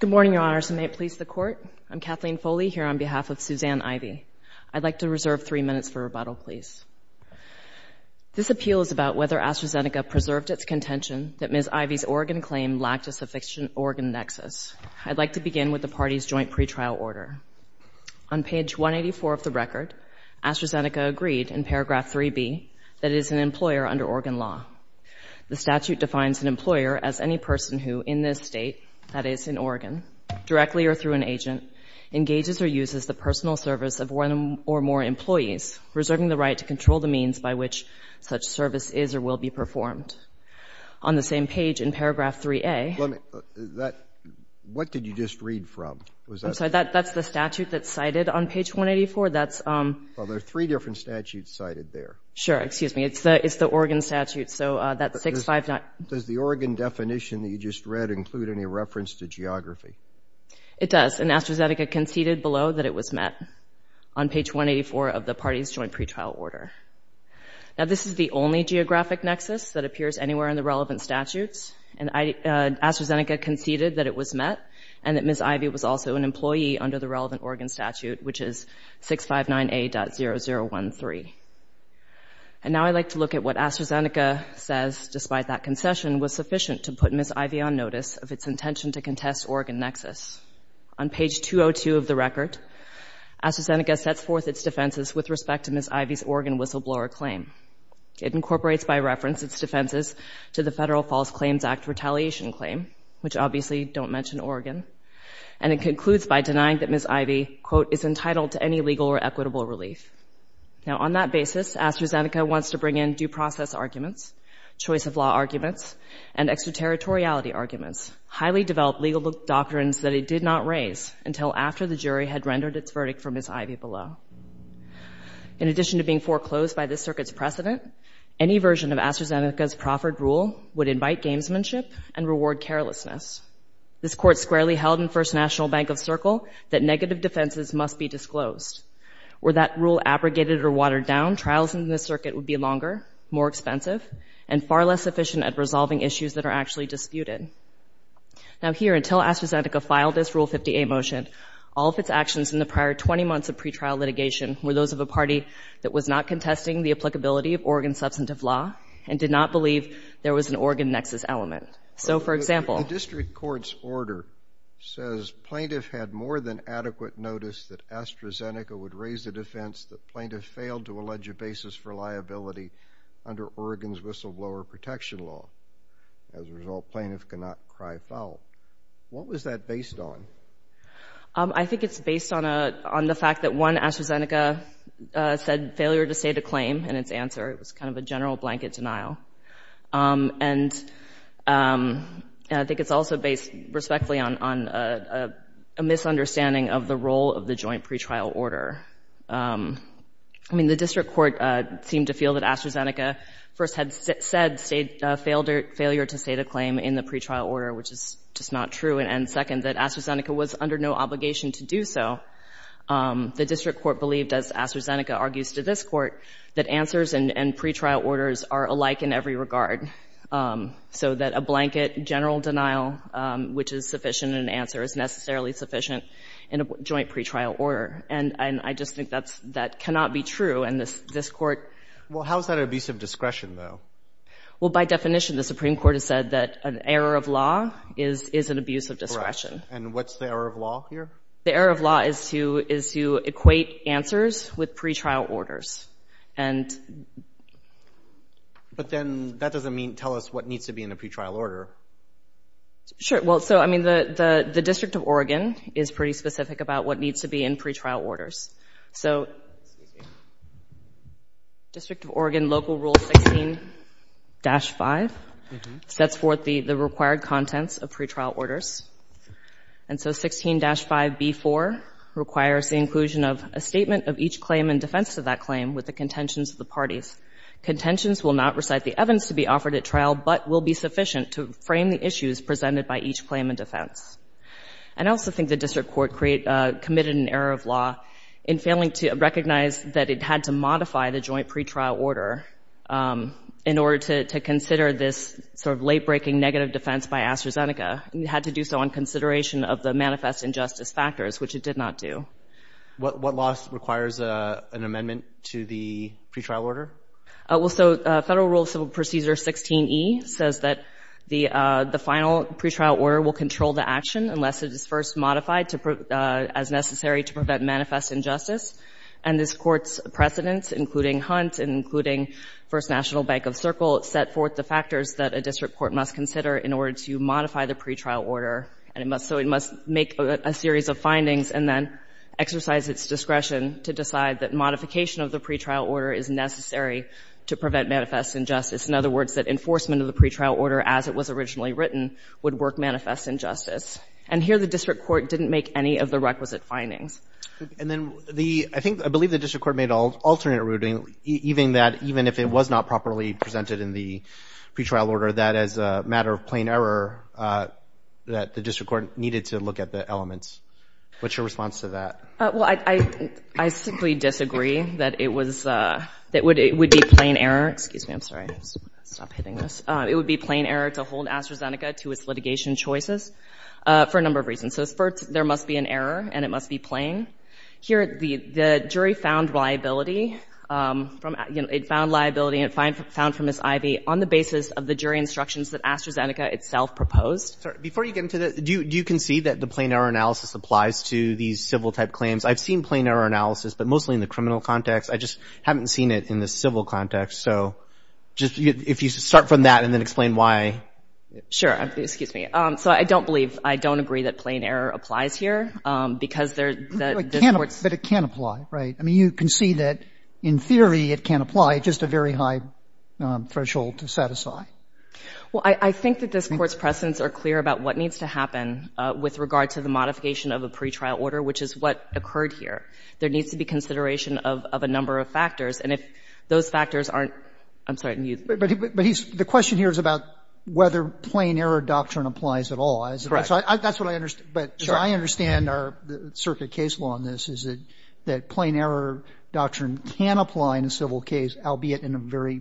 Good morning, Your Honors, and may it please the Court, I'm Kathleen Foley here on behalf of Suzanne Ivie. I'd like to reserve three minutes for rebuttal, please. This appeal is about whether AstraZeneca preserved its contention that Ms. Ivie's organ claim lacked a sufficient organ nexus. I'd like to begin with the party's joint pretrial order. On page 184 of the record, AstraZeneca agreed in paragraph 3B that it is an employer under organ law. The statute defines an employer as any person who, in this State, that is, in Oregon, directly or through an agent, engages or uses the personal service of one or more employees, reserving the right to control the means by which such service is or will be performed. On the same page in paragraph 3A Let me, that, what did you just read from? I'm sorry, that's the statute that's cited on page 184, that's Well, there are three different statutes cited there. Sure, excuse me, it's the, it's the Oregon statute, so that 659 Does the Oregon definition that you just read include any reference to geography? It does, and AstraZeneca conceded below that it was met on page 184 of the party's joint pretrial order. Now, this is the only geographic nexus that appears anywhere in the relevant statutes, and AstraZeneca conceded that it was met, and that Ms. Ivie was also an employee under the relevant Oregon statute, which is 659A.0013. And now I'd like to look at what AstraZeneca says, despite that concession, was sufficient to put Ms. Ivie on notice of its intention to contest Oregon nexus. On page 202 of the record, AstraZeneca sets forth its defenses with respect to Ms. Ivie's Oregon whistleblower claim. It incorporates by reference its defenses to the Federal False Claims Act retaliation claim, which obviously don't mention Oregon, and it concludes by denying that Ms. Ivie, quote, is entitled to any legal or equitable relief. Now, on that basis, AstraZeneca wants to bring in due process arguments, choice of law arguments, and extraterritoriality arguments, highly developed legal doctrines that it did not raise until after the jury had rendered its verdict for Ms. Ivie below. In addition to being foreclosed by this circuit's precedent, any version of AstraZeneca's proffered rule would invite gamesmanship and reward carelessness. This Court squarely held in First National Bank of Circle that negative defenses must be disclosed. Were that rule abrogated or watered down, trials in this circuit would be longer, more expensive, and far less efficient at resolving issues that are actually disputed. Now, here, until AstraZeneca filed this Rule 50A motion, all of its actions in the prior 20 months of pretrial litigation were those of a party that was not contesting the applicability of Oregon substantive law and did not believe there was an Oregon nexus element. So, for example — Plaintiff had more than adequate notice that AstraZeneca would raise the defense that plaintiff failed to allege a basis for liability under Oregon's whistleblower protection law. As a result, plaintiff could not cry foul. What was that based on? I think it's based on the fact that, one, AstraZeneca said failure to state a claim in its answer. It was kind of a general blanket denial. And I think it's also based respectfully on a misunderstanding of the role of the joint pretrial order. I mean, the district court seemed to feel that AstraZeneca first had said failure to state a claim in the pretrial order, which is just not true, and, second, that AstraZeneca was under no obligation to do so. The district court believed, as AstraZeneca argues to this Court, that answers and pretrial orders are alike in every regard, so that a blanket general denial, which is sufficient in an answer, is necessarily sufficient in a joint pretrial order. And I just think that cannot be true, and this Court — Well, how is that an abuse of discretion, though? Well, by definition, the Supreme Court has said that an error of law is an abuse of discretion. And what's the error of law here? The error of law is to equate answers with pretrial orders, and — But then that doesn't tell us what needs to be in a pretrial order. Sure. Well, so, I mean, the District of Oregon is pretty specific about what needs to be in pretrial orders. So District of Oregon Local Rule 16-5 sets forth the required contents of pretrial orders. And so 16-5B4 requires the inclusion of a statement of each claim in defense of that claim with the contentions of the parties. Contentions will not recite the evidence to be offered at trial, but will be sufficient to frame the issues presented by each claim in defense. And I also think the district court committed an error of law in failing to recognize that it had to modify the joint pretrial order in order to consider this sort of late-breaking negative defense by AstraZeneca. It had to do so on consideration of the manifest injustice factors, which it did not do. What law requires an amendment to the pretrial order? Well, so Federal Rule of Civil Procedure 16E says that the final pretrial order will control the action unless it is first modified to — as necessary to prevent manifest injustice. And this Court's precedents, including Hunt and including First National Bank of Circle, set forth the factors that a district court must consider in order to modify the pretrial order. And it must — so it must make a series of findings and then exercise its discretion to decide that modification of the pretrial order is necessary to prevent manifest injustice. In other words, that enforcement of the pretrial order as it was originally written would work manifest injustice. And here the district court didn't make any of the requisite findings. And then the — I think — I believe the district court made an alternate ruling, even that — even if it was not properly presented in the pretrial order, that as a matter of plain error, that the district court needed to look at the elements. What's your response to that? Well, I — I simply disagree that it was — that it would be plain error — excuse me, I'm sorry. I'm just going to stop hitting this. It would be plain error to hold AstraZeneca to its litigation choices for a number of reasons. So first, there must be an error and it must be plain. Here, the jury found liability from — you know, it found liability and it found from Ms. Ivey on the basis of the jury instructions that AstraZeneca itself proposed. Before you get into the — do you concede that the plain error analysis applies to these civil-type claims? I've seen plain error analysis, but mostly in the criminal context. I just haven't seen it in the civil context. So just — if you start from that and then explain why. Sure. Excuse me. So I don't believe — I don't agree that plain error applies here because there — But it can apply, right? I mean, you concede that in theory it can apply. It's just a very high threshold to satisfy. Well, I think that this Court's precedents are clear about what needs to happen with regard to the modification of a pretrial order, which is what occurred here. There needs to be consideration of a number of factors. And if those factors aren't — I'm sorry, can you — But he's — the question here is about whether plain error doctrine applies at all. Correct. So that's what I — but as I understand our circuit case law in this, is that plain error doctrine can apply in a civil case, albeit in a very,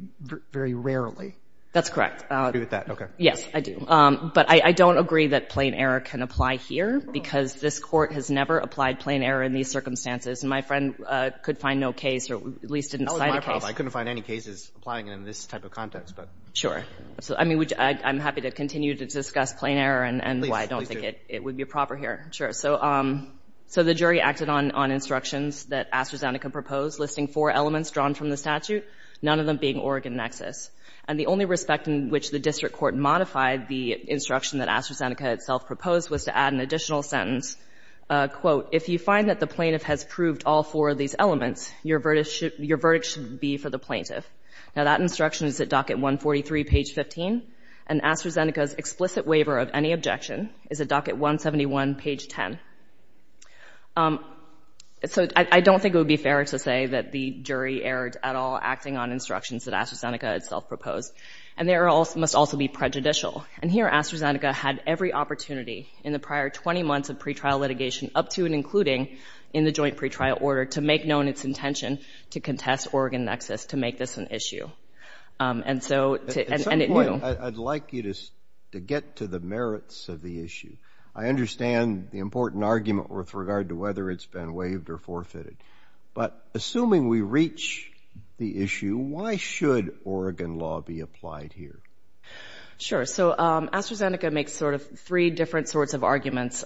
very rarely. That's correct. I agree with that. Okay. Yes, I do. But I don't agree that plain error can apply here because this Court has never applied plain error in these circumstances. And my friend could find no case or at least didn't cite a case. That was my problem. I couldn't find any cases applying it in this type of context. But — Sure. So, I mean, I'm happy to continue to discuss plain error and why I don't think it would be proper here. Please do. Sure. So the jury acted on instructions that AstraZeneca proposed, listing four And the only respect in which the district court modified the instruction that AstraZeneca itself proposed was to add an additional sentence, quote, If you find that the plaintiff has proved all four of these elements, your verdict should — your verdict should be for the plaintiff. Now, that instruction is at docket 143, page 15. And AstraZeneca's explicit waiver of any objection is at docket 171, page 10. So I don't think it would be fair to say that the jury erred at all acting on And there must also be prejudicial. And here, AstraZeneca had every opportunity in the prior 20 months of pretrial litigation, up to and including in the joint pretrial order, to make known its intention to contest Oregon Nexus to make this an issue. And so — At some point, I'd like you to get to the merits of the issue. I understand the important argument with regard to whether it's been waived or applied here. Sure. So AstraZeneca makes sort of three different sorts of arguments.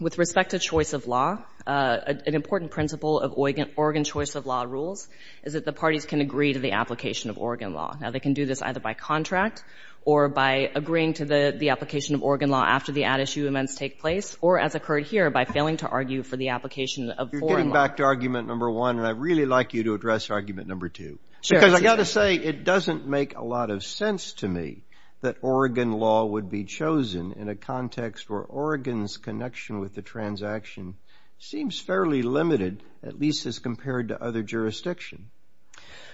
With respect to choice of law, an important principle of Oregon choice of law rules is that the parties can agree to the application of Oregon law. Now, they can do this either by contract or by agreeing to the application of Oregon law after the ad issue amends take place, or, as occurred here, by failing to argue for the application of foreign law. You're getting back to argument number one, and I'd really like you to address argument number two. Sure. Because I've got to say, it doesn't make a lot of sense to me that Oregon law would be chosen in a context where Oregon's connection with the transaction seems fairly limited, at least as compared to other jurisdictions.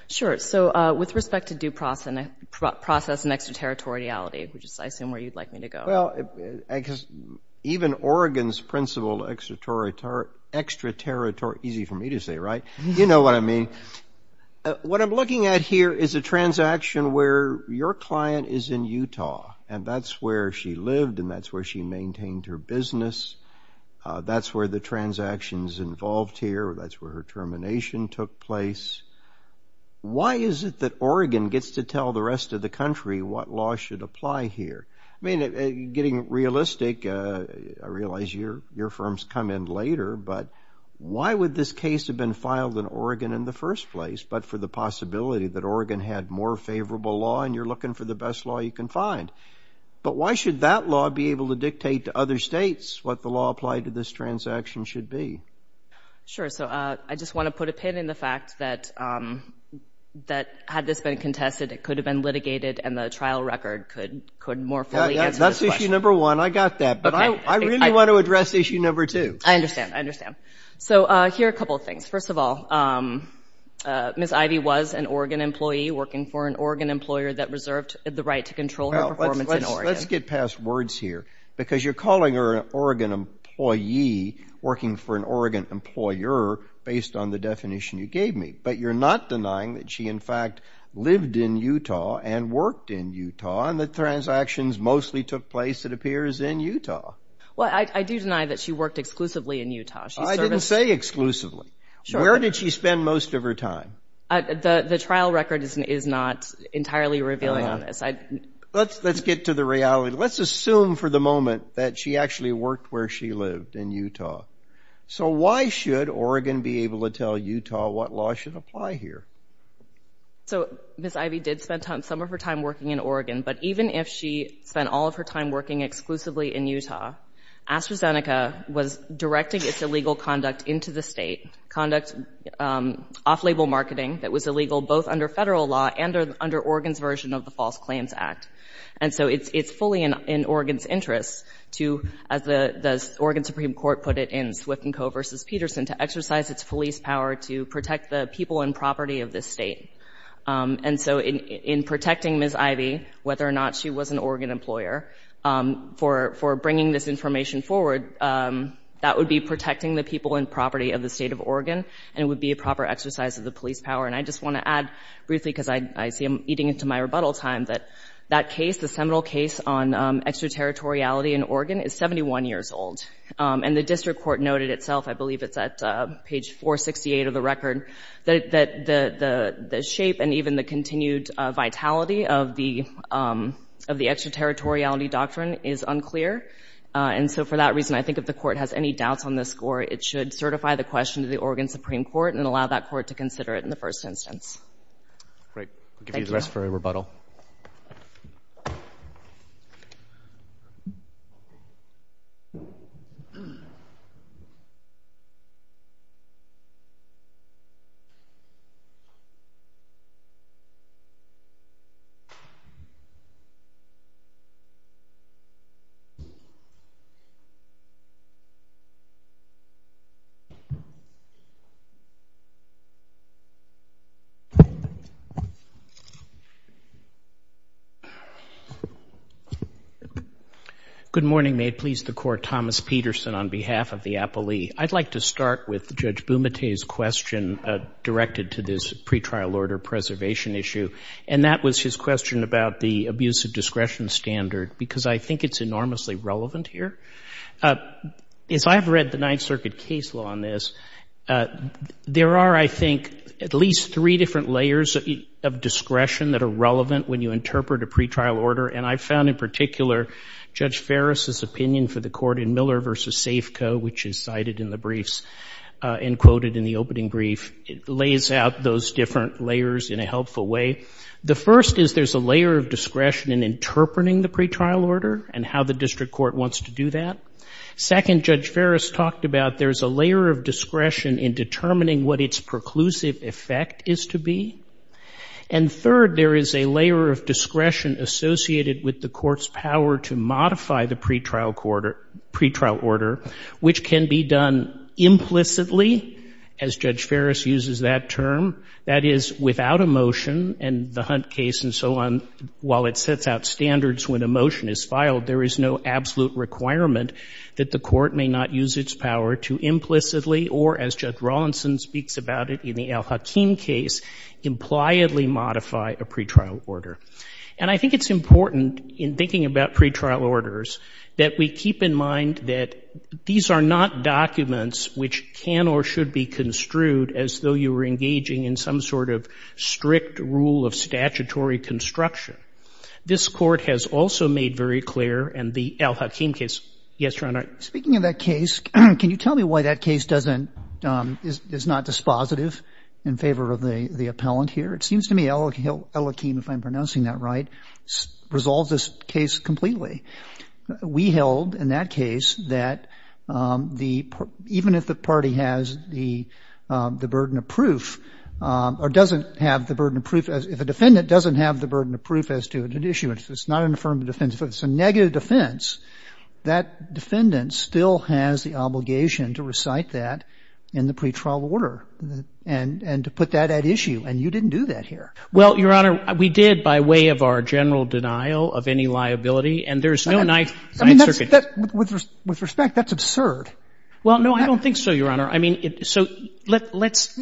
Sure. So with respect to due process and extraterritoriality, which is, I assume, where you'd like me to go. Well, because even Oregon's principle of extraterritorial — easy for me to say, right? You know what I mean. What I'm looking at here is a transaction where your client is in Utah, and that's where she lived, and that's where she maintained her business. That's where the transaction's involved here, or that's where her termination took place. Why is it that Oregon gets to tell the rest of the country what law should apply here? I mean, getting realistic, I realize your firm's come in later, but why would this case have been filed in Oregon in the first place, but for the possibility that Oregon had more favorable law, and you're looking for the best law you can find? But why should that law be able to dictate to other states what the law applied to this transaction should be? Sure. So I just want to put a pin in the fact that, had this been contested, it could have been litigated, and the trial record could more fully answer this question. That's issue number one. I got that. But I really want to address issue number two. I understand. I understand. So here are a couple of things. First of all, Ms. Ivey was an Oregon employee working for an Oregon employer that reserved the right to control her performance in Oregon. Let's get past words here, because you're calling her an Oregon employee working for an Oregon employer based on the definition you gave me, but you're not denying that she, in fact, lived in Utah and worked in Utah, and that transactions mostly took place, it appears, in Utah. Well, I do deny that she worked exclusively in Utah. I didn't say exclusively. Where did she spend most of her time? The trial record is not entirely revealing on this. Let's get to the reality. Let's assume for the moment that she actually worked where she lived, in Utah. So why should Oregon be able to tell Utah what law should apply here? So Ms. Ivey did spend some of her time working in Oregon, but even if she spent all of her time working exclusively in Utah, AstraZeneca was directing its illegal conduct into the state, conduct off-label marketing that was illegal both under federal law and under Oregon's version of the False Claims Act. And so it's fully in Oregon's interest to, as the Oregon Supreme Court put it in Swift & Co v. Peterson, to exercise its police power to protect the people and property of this state. And so in protecting Ms. Ivey, whether or not she was an Oregon employer, for bringing this information forward, that would be protecting the people and property of the state of Oregon, and it would be a proper exercise of the police power. And I just want to add briefly, because I see I'm eating into my rebuttal time, that that case, the seminal case on extraterritoriality in Oregon, is 71 years old. And the district court noted itself, I believe it's at page 468 of the record, that the shape and even the continued vitality of the extraterritoriality doctrine is unclear. And so for that reason, I think if the court has any doubts on this score, it should certify the question to the Oregon Supreme Court and allow that court to consider it in the first instance. Great. I'll give you the rest for a rebuttal. Good morning. May it please the court, Thomas Peterson on behalf of the appellee. I'd like to start with Judge Bumate's question directed to this pretrial order preservation issue. And that was his question about the abuse of discretion standard, because I think it's enormously relevant here. As I've read the Ninth Circuit case law on this, there are, I think, at least three different layers of discretion that are relevant when you interpret a pretrial order. And I found in particular Judge Ferris's opinion for the court in Miller versus Safeco, which is cited in the briefs and quoted in the opening brief, it lays out those different layers in a helpful way. The first is there's a layer of discretion in interpreting the pretrial order and how the district court wants to do that. Second, Judge Ferris talked about there's a layer of discretion in determining what its preclusive effect is to be. And third, there is a layer of discretion associated with the court's power to modify the pretrial order, which can be done implicitly, as Judge Ferris uses that term. That is, without a motion in the Hunt case and so on, while it sets out standards when a motion is filed, there is no absolute requirement that the court may not use its power to implicitly or, as Judge Rawlinson speaks about it in the Al-Hakim case, impliedly modify a pretrial order. And I think it's important, in thinking about pretrial orders, that we keep in mind that these are not documents which can or should be construed as though you were engaging in some sort of strict rule of statutory construction. This court has also made very clear, and the Al-Hakim case... Yes, Your Honor. Speaking of that case, can you tell me why that case doesn't... is not dispositive in favor of the appellant here? It seems to me Al-Hakim, if I'm pronouncing that right, resolves this case completely. We held, in that case, that even if the party has the burden of proof, or doesn't have the burden of proof... if a defendant doesn't have the burden of proof as to an issue, it's not an affirmative defense, but it's a negative defense, that defendant still has the obligation to recite that in the pretrial order and to put that at issue, and you didn't do that here. Well, Your Honor, we did by way of our general denial of any liability, and there's no knife... I mean, with respect, that's absurd. Well, no, I don't think so, Your Honor. I mean, so let's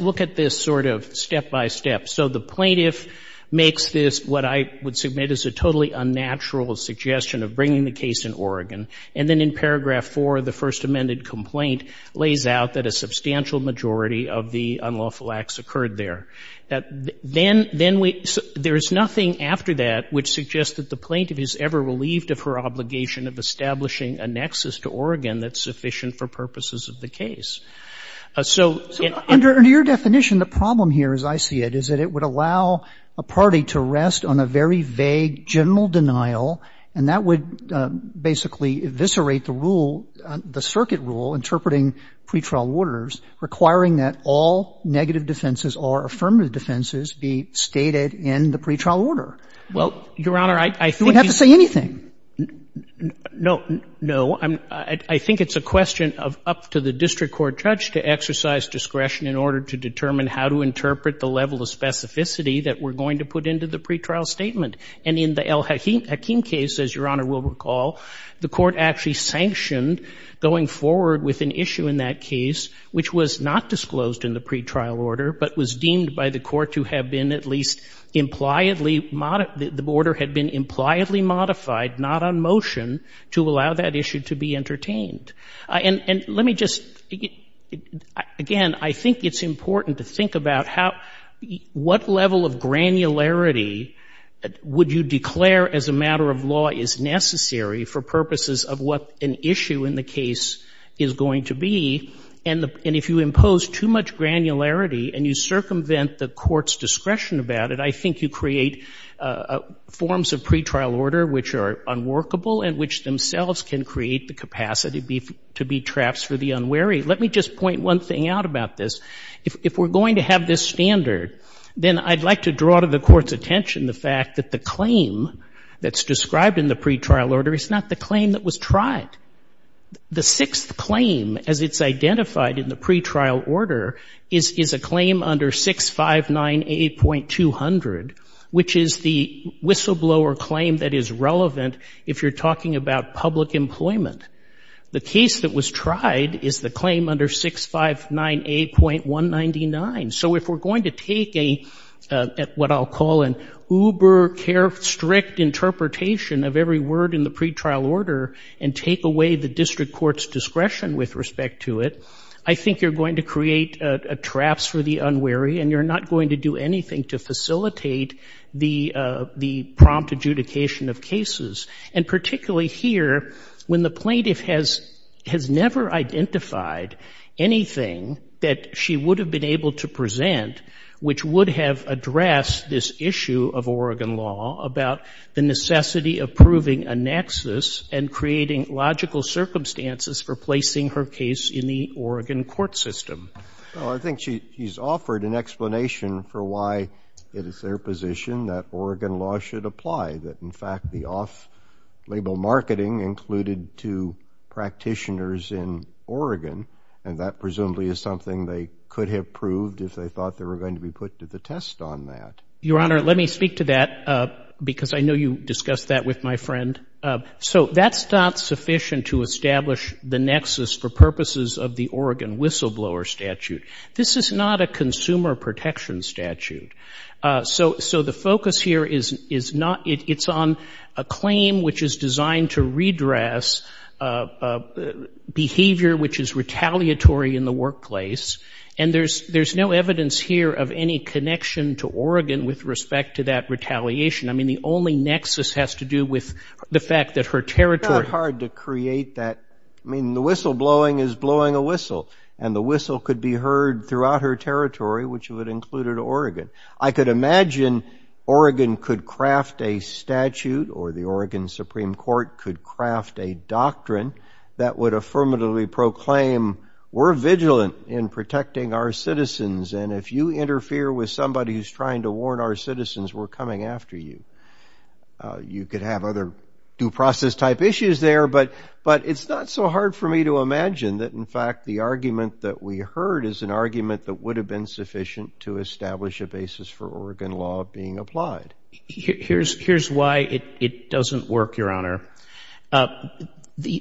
look at this sort of step-by-step. So the plaintiff makes this, what I would submit as a totally unnatural suggestion of bringing the case in Oregon, and then in paragraph 4, the first amended complaint lays out that a substantial majority of the unlawful acts occurred there. That then we... there is nothing after that which suggests that the plaintiff is ever relieved of her obligation of establishing a nexus to Oregon that's sufficient for purposes of the case. So... So under your definition, the problem here, as I see it, is that it would allow a party to rest on a very vague general denial, and that would basically eviscerate the rule, the circuit rule interpreting pretrial orders requiring that all negative defenses or affirmative defenses be stated in the pretrial order. Well, Your Honor, I think... You wouldn't have to say anything. No. No, I think it's a question of up to the district court judge to exercise discretion in order to determine how to interpret the level of specificity that we're going to put into the pretrial statement. And in the Al-Hakim case, as Your Honor will recall, the court actually sanctioned going forward with an issue in that case, which was not disclosed in the pretrial order, but was deemed by the court to have been at least impliedly... the order had been impliedly modified, not on motion, to allow that issue to be entertained. And let me just... Again, I think it's important to think about how... granularity would you declare as a matter of law is necessary for purposes of what an issue in the case is going to be. And if you impose too much granularity and you circumvent the court's discretion about it, I think you create forms of pretrial order which are unworkable and which themselves can create the capacity to be traps for the unwary. Let me just point one thing out about this. If we're going to have this standard, then I'd like to draw to the court's attention the fact that the claim that's described in the pretrial order is not the claim that was tried. The sixth claim, as it's identified in the pretrial order, is a claim under 6598.200, which is the whistleblower claim that is relevant if you're talking about public employment. The case that was tried is the claim under 6598.199. So if we're going to take a, what I'll call an uber care strict interpretation of every word in the pretrial order and take away the district court's discretion with respect to it, I think you're going to create traps for the unwary and you're not going to do anything to facilitate the prompt adjudication of cases. And particularly here, when the plaintiff has never identified anything that she would have been able to present which would have addressed this issue of Oregon law about the necessity of proving a nexus and creating logical circumstances for placing her case in the Oregon court system. I think she's offered an explanation for why it is their position that Oregon law should apply. That in fact, the off-label marketing included to practitioners in Oregon, and that presumably is something they could have proved if they thought they were going to be put to the test on that. Your Honor, let me speak to that because I know you discussed that with my friend. So that's not sufficient to establish the nexus for purposes of the Oregon whistleblower statute. This is not a consumer protection statute. So the focus here is not, it's on a claim which is designed to redress behavior which is retaliatory in the workplace. And there's no evidence here of any connection to Oregon with respect to that retaliation. I mean, the only nexus has to do with the fact that her territory- It's not hard to create that. I mean, the whistleblowing is blowing a whistle. And the whistle could be heard throughout her territory, which would have included Oregon. I could imagine Oregon could craft a statute, or the Oregon Supreme Court could craft a doctrine that would affirmatively proclaim, we're vigilant in protecting our citizens. And if you interfere with somebody who's trying to warn our citizens, we're coming after you. You could have other due process type issues there, but it's not so hard for me to imagine that, in fact, the argument that we heard is an argument that would have been sufficient to establish a basis for Oregon law being applied. Here's why it doesn't work, Your Honor. The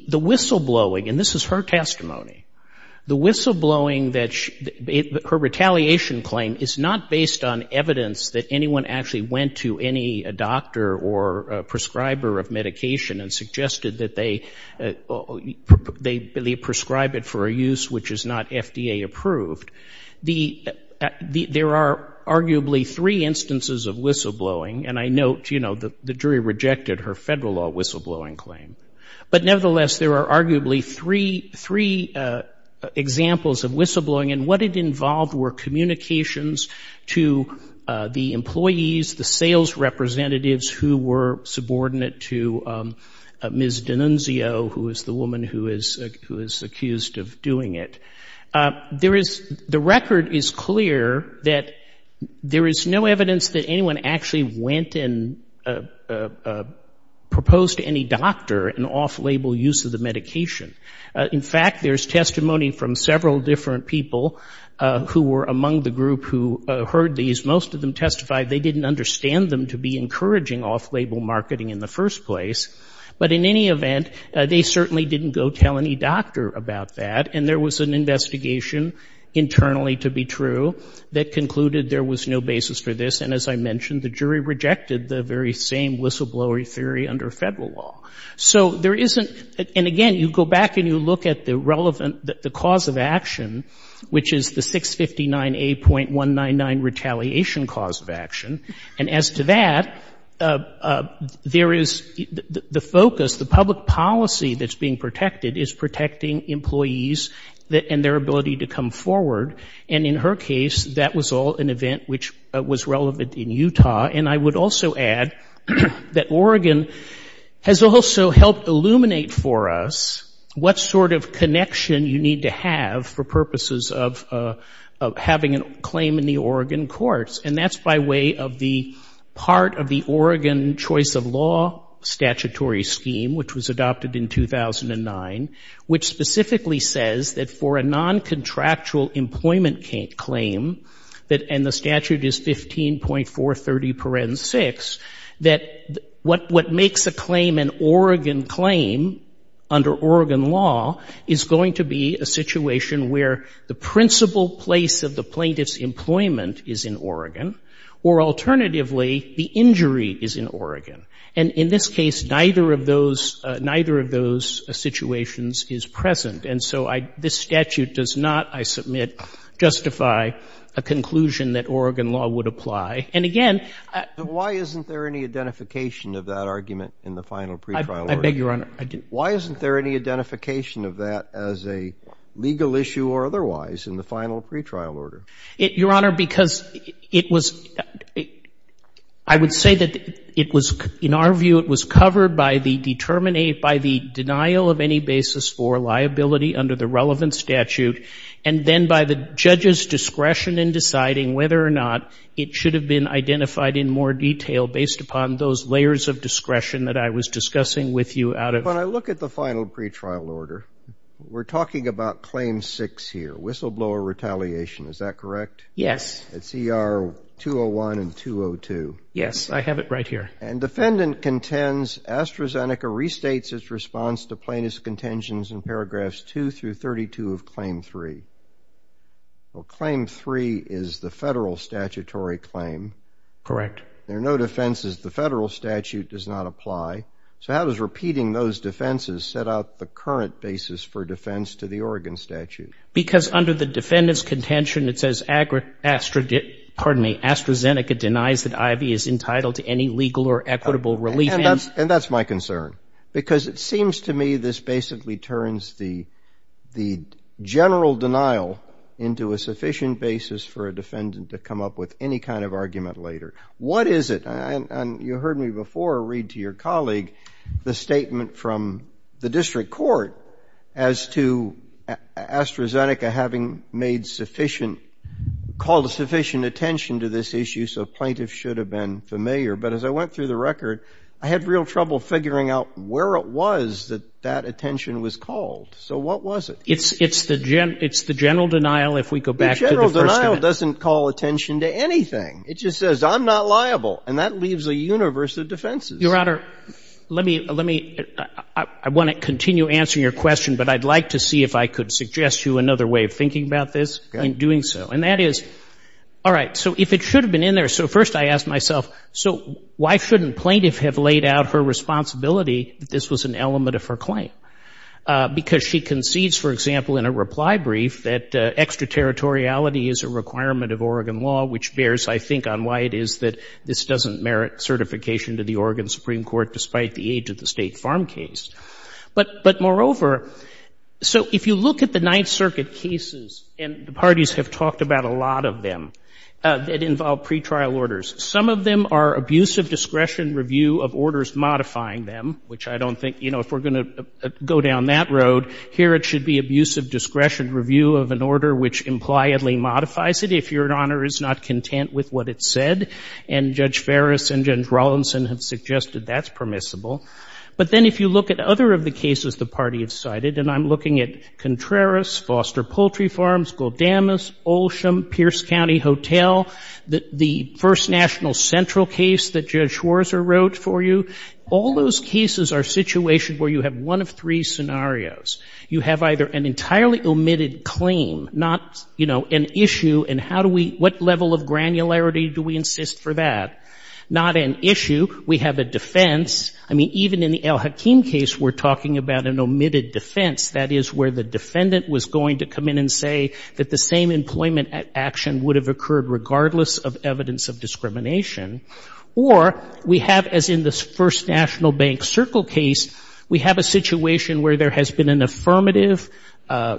whistleblowing, and this is her testimony. The whistleblowing that her retaliation claim is not based on evidence that anyone actually went to any doctor or prescriber of medication and they prescribe it for a use which is not FDA approved. There are arguably three instances of whistleblowing, and I note the jury rejected her federal law whistleblowing claim. But nevertheless, there are arguably three examples of whistleblowing, and what it involved were communications to the employees, the sales representatives who were subordinate to Ms. Newman, who is accused of doing it. The record is clear that there is no evidence that anyone actually went and proposed to any doctor an off-label use of the medication. In fact, there's testimony from several different people who were among the group who heard these. Most of them testified they didn't understand them to be encouraging off-label marketing in the first place. But in any event, they certainly didn't go tell any doctor about that, and there was an investigation internally, to be true, that concluded there was no basis for this, and as I mentioned, the jury rejected the very same whistleblower theory under federal law. So there isn't, and again, you go back and you look at the relevant, the cause of action, which is the 659A.199 retaliation cause of action. And as to that, there is the focus, the public policy that's being protected is protecting employees and their ability to come forward. And in her case, that was all an event which was relevant in Utah. And I would also add that Oregon has also helped illuminate for us what sort of connection you need to have for purposes of having a claim in the Oregon courts. And that's by way of the part of the Oregon Choice of Law Statutory Scheme, which was adopted in 2009, which specifically says that for a non-contractual employment claim, and the statute is 15.430.6, that what makes a claim an Oregon claim under Oregon law is going to be a situation where the principal place of the plaintiff's claim is in Oregon, or alternatively, the injury is in Oregon. And in this case, neither of those situations is present. And so this statute does not, I submit, justify a conclusion that Oregon law would apply. And again- Why isn't there any identification of that argument in the final pretrial order? I beg your honor, I didn't- Why isn't there any identification of that as a legal issue or otherwise in the final pretrial order? Your honor, because it was, I would say that it was, in our view, it was covered by the denial of any basis for liability under the relevant statute, and then by the judge's discretion in deciding whether or not it should have been identified in more detail based upon those layers of discretion that I was discussing with you out of- When I look at the final pretrial order, we're talking about Claim 6 here. Whistleblower retaliation, is that correct? Yes. It's ER 201 and 202. Yes, I have it right here. And defendant contends AstraZeneca restates its response to plaintiff's contentions in paragraphs 2 through 32 of Claim 3. Well, Claim 3 is the federal statutory claim. Correct. There are no defenses. The federal statute does not apply. So how does repeating those defenses set out the current basis for defense to the Oregon statute? Because under the defendant's contention, it says AstraZeneca denies that Ivey is entitled to any legal or equitable relief. And that's my concern. Because it seems to me this basically turns the general denial into a sufficient basis for a defendant to come up with any kind of argument later. What is it? And you heard me before read to your colleague the statement from the district court as to AstraZeneca having made sufficient, called sufficient attention to this issue, so plaintiff should have been familiar. But as I went through the record, I had real trouble figuring out where it was that that attention was called, so what was it? It's the general denial if we go back to the first of it. The general denial doesn't call attention to anything. It just says I'm not liable, and that leaves a universe of defenses. Your Honor, let me, I want to continue answering your question, but I'd like to see if I could suggest you another way of thinking about this in doing so. And that is, all right, so if it should have been in there, so first I ask myself, so why shouldn't plaintiff have laid out her responsibility that this was an element of her claim, because she concedes, for example, in a reply brief that extraterritoriality is a requirement of Oregon law, which bears, I think, on why it is that this doesn't merit certification to the Oregon Supreme Court, despite the age of the State Farm case. But moreover, so if you look at the Ninth Circuit cases, and the parties have talked about a lot of them, that involve pretrial orders. Some of them are abusive discretion review of orders modifying them, which I don't think, if we're going to go down that road, here it should be abusive discretion review of an order which impliedly modifies it, if your honor is not content with what it said, and Judge Ferris and Judge Rawlinson have suggested that's permissible. But then if you look at other of the cases the party has cited, and I'm looking at Contreras, Foster Poultry Farms, Goldamas, Olsham, Pierce County Hotel, the first National Central case that Judge Schwarzer wrote for you. All those cases are situations where you have one of three scenarios. You have either an entirely omitted claim, not an issue, and what level of granularity do we insist for that? Not an issue, we have a defense. I mean, even in the Al-Hakim case, we're talking about an omitted defense. That is where the defendant was going to come in and say that the same employment action would have occurred regardless of evidence of discrimination. Or we have, as in this first National Bank Circle case, we have a situation where there has been an affirmative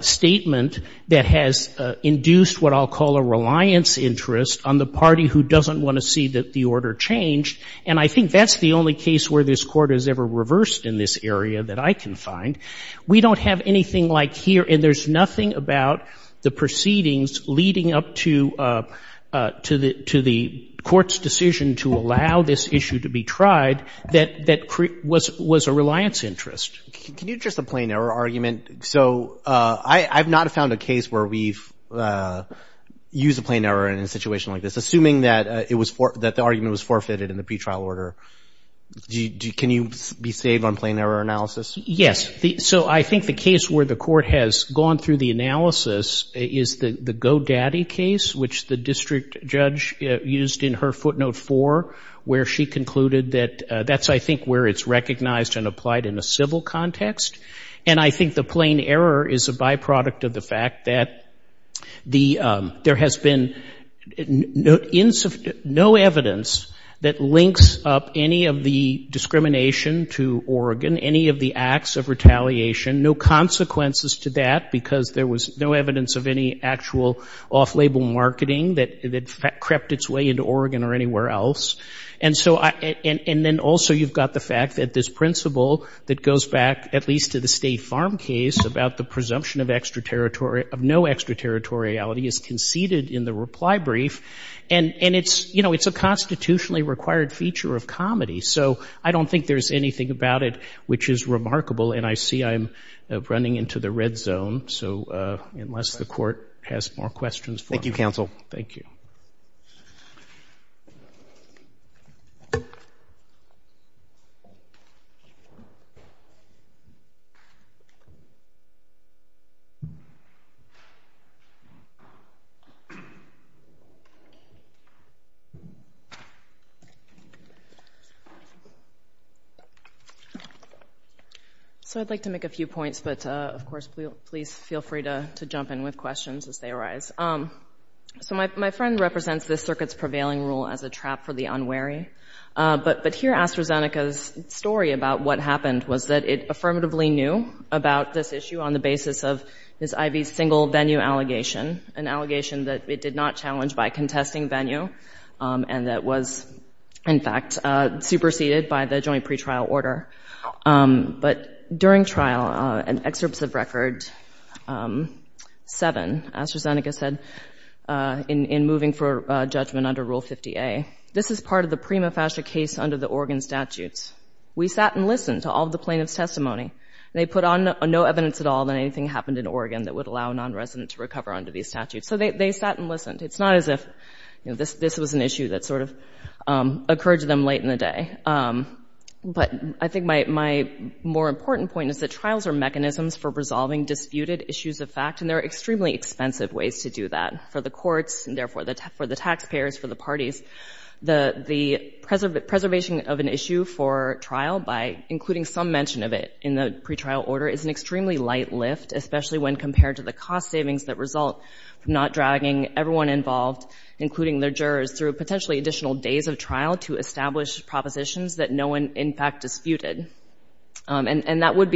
statement that has induced what I'll call a reliance interest on the party who doesn't want to see that the order changed, and I think that's the only case where this court has ever reversed in this area that I can find. We don't have anything like here, and there's nothing about the proceedings leading up to the court's decision to allow this issue to be tried that was a reliance interest. Can you address the plain error argument? So I've not found a case where we've used a plain error in a situation like this, assuming that the argument was forfeited in the pretrial order. Can you be safe on plain error analysis? Yes. So I think the case where the court has gone through the analysis is the Go Daddy case, which the district judge used in her footnote four, where she concluded that that's, I think, where it's recognized and applied in a civil context. And I think the plain error is a byproduct of the fact that there has been no evidence that links up any of the discrimination to Oregon, any of the acts of retaliation, no consequences to that because there was no evidence of any actual off-label marketing that crept its way into Oregon or and then also you've got the fact that this principle that goes back at least to the State Farm case about the presumption of no extraterritoriality is conceded in the reply brief and it's a constitutionally required feature of comedy. So I don't think there's anything about it which is remarkable and I see I'm running into the red zone. So unless the court has more questions. Thank you, counsel. Thank you. So I'd like to make a few points, but of course, please feel free to jump in with questions as they arise. So my friend represents this circuit's prevailing rule as a trap for jury, but here AstraZeneca's story about what happened was that it affirmatively knew about this issue on the basis of this IV single venue allegation, an allegation that it did not challenge by contesting venue and that was in fact superseded by the joint pretrial order. But during trial and excerpts of record seven, AstraZeneca said in moving for judgment under Rule 50A, this is part of the prima facie case under the Oregon statutes. We sat and listened to all of the plaintiff's testimony. They put on no evidence at all that anything happened in Oregon that would allow a nonresident to recover under these statutes. So they sat and listened. It's not as if this was an issue that sort of occurred to them late in the day. But I think my more important point is that trials are mechanisms for resolving disputed issues of fact and there are extremely expensive ways to do that for the courts and therefore for the taxpayers, for the parties. The preservation of an issue for trial by including some mention of it in the pretrial order is an extremely light lift, especially when compared to the cost savings that result from not dragging everyone involved, including their jurors, through potentially additional days of trial to establish propositions that no one in fact has ever heard of. So I think it's important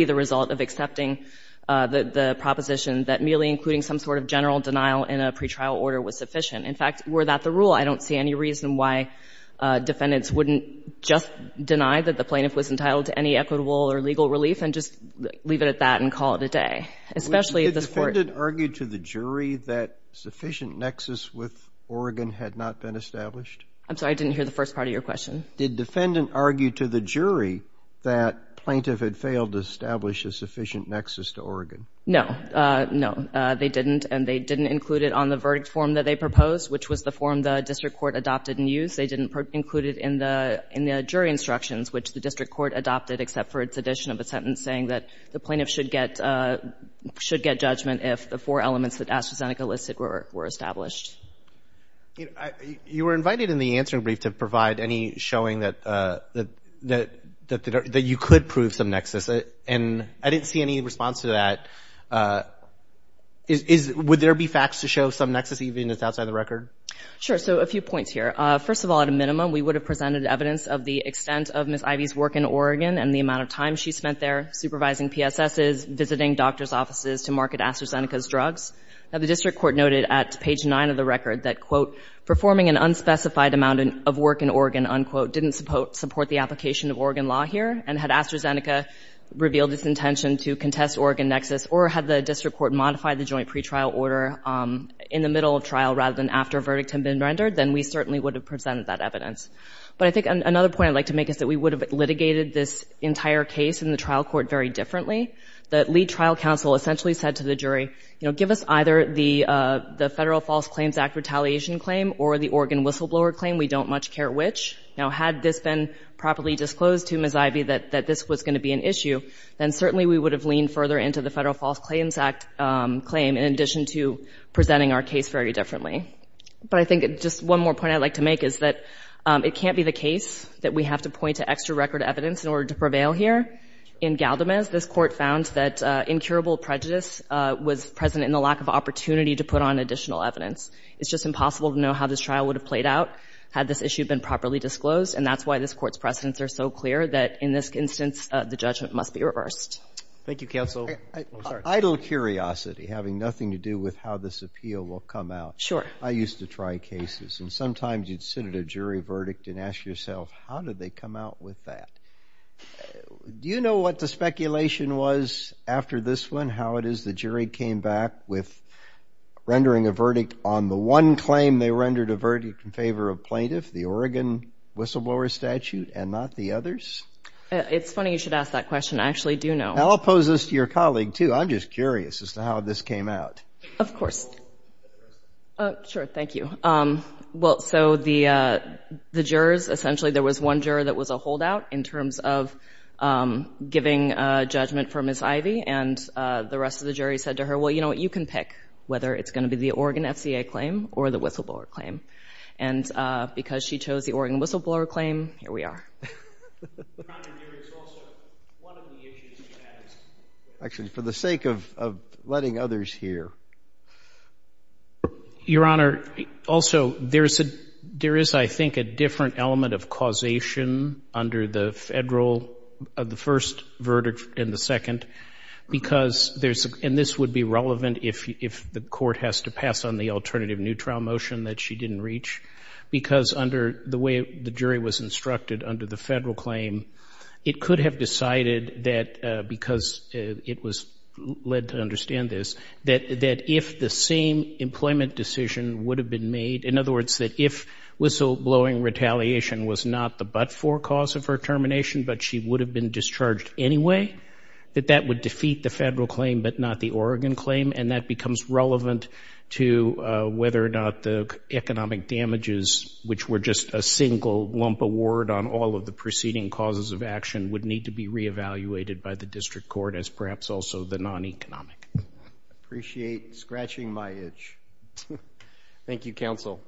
to understand that the proposition that merely including some sort of general denial in a pretrial order was sufficient. In fact, were that the rule? I don't see any reason why defendants wouldn't just deny that the plaintiff was entitled to any equitable or legal relief and just leave it at that and call it a day, especially if this Court — No. No, they didn't. And they didn't include it on the verdict form that they proposed, which was the form the district court adopted and used. They didn't include it in the jury instructions, which the district court adopted except for its addition of a sentence saying that the plaintiff should get judgment if the four elements that AstraZeneca listed were established. You were invited in the answering brief to provide any showing that you could prove some nexus, and I didn't see any response to that. Would there be facts to show some nexus, even if it's outside the record? Sure. So a few points here. First of all, at a minimum, we would have presented evidence of the extent of Ms. Ivey's work in Oregon and the amount of time she spent there supervising PSSs, visiting doctors' offices to market AstraZeneca's drugs. Now, the district court noted at page 9 of the record that, quote, performing an unspecified amount of work in Oregon, unquote, didn't support the application of Oregon law here, and had AstraZeneca revealed its intention to contest Oregon nexus or had the district court modified the joint pretrial order in the middle of trial rather than after a verdict had been rendered, then we certainly would have presented that evidence. But I think another point I'd like to make is that we would have litigated this entire case in the trial court very differently. The lead trial counsel essentially said to the jury, you know, give us either the Federal False Claims Act retaliation claim or the Oregon whistleblower claim. We don't much care which. Now, had this been properly disclosed to Ms. Ivey that this was going to be an issue, then certainly we would have leaned further into the Federal False Claims Act claim in addition to presenting our case very differently. But I think just one more point I'd like to make is that it can't be the case that we have to point to extra record evidence in order to prevail here. In Galdamez, this court found that incurable prejudice was present in the lack of opportunity to put on additional evidence. It's just impossible to know how this trial would have played out had this issue been properly disclosed, and that's why this Court's precedents are so clear that in this instance the judgment must be reversed. Thank you, counsel. Idle curiosity having nothing to do with how this appeal will come out. Sure. I used to try cases, and sometimes you'd sit at a jury verdict and ask yourself, how did they come out with that? Do you know what the speculation was after this one, how it is the jury came back with rendering a verdict on the one claim they rendered a verdict in favor of plaintiff, the Oregon whistleblower statute, and not the others? It's funny you should ask that question. I actually do know. I'll pose this to your colleague, too. I'm just curious as to how this came out. Of course. Sure. Thank you. Well, so the jurors, essentially there was one juror that was a holdout in terms of the giving judgment for Ms. Ivey, and the rest of the jury said to her, well, you know what, you can pick whether it's going to be the Oregon FCA claim or the whistleblower claim. And because she chose the Oregon whistleblower claim, here we are. Actually, for the sake of letting others hear. Your Honor, also, there is, I think, a different element of causation under the federal, the first verdict and the second, because there's, and this would be relevant if the court has to pass on the alternative neutral motion that she didn't reach, because under the way the jury was instructed under the federal claim, it could have decided that because it was led to the same employment decision would have been made. In other words, that if whistleblowing retaliation was not the but-for cause of her termination, but she would have been discharged anyway, that that would defeat the federal claim but not the Oregon claim. And that becomes relevant to whether or not the economic damages, which were just a single lump award on all of the preceding causes of action, would need to be reevaluated by the district court as perhaps also the non-economic. Appreciate scratching my itch. Thank you, counsel.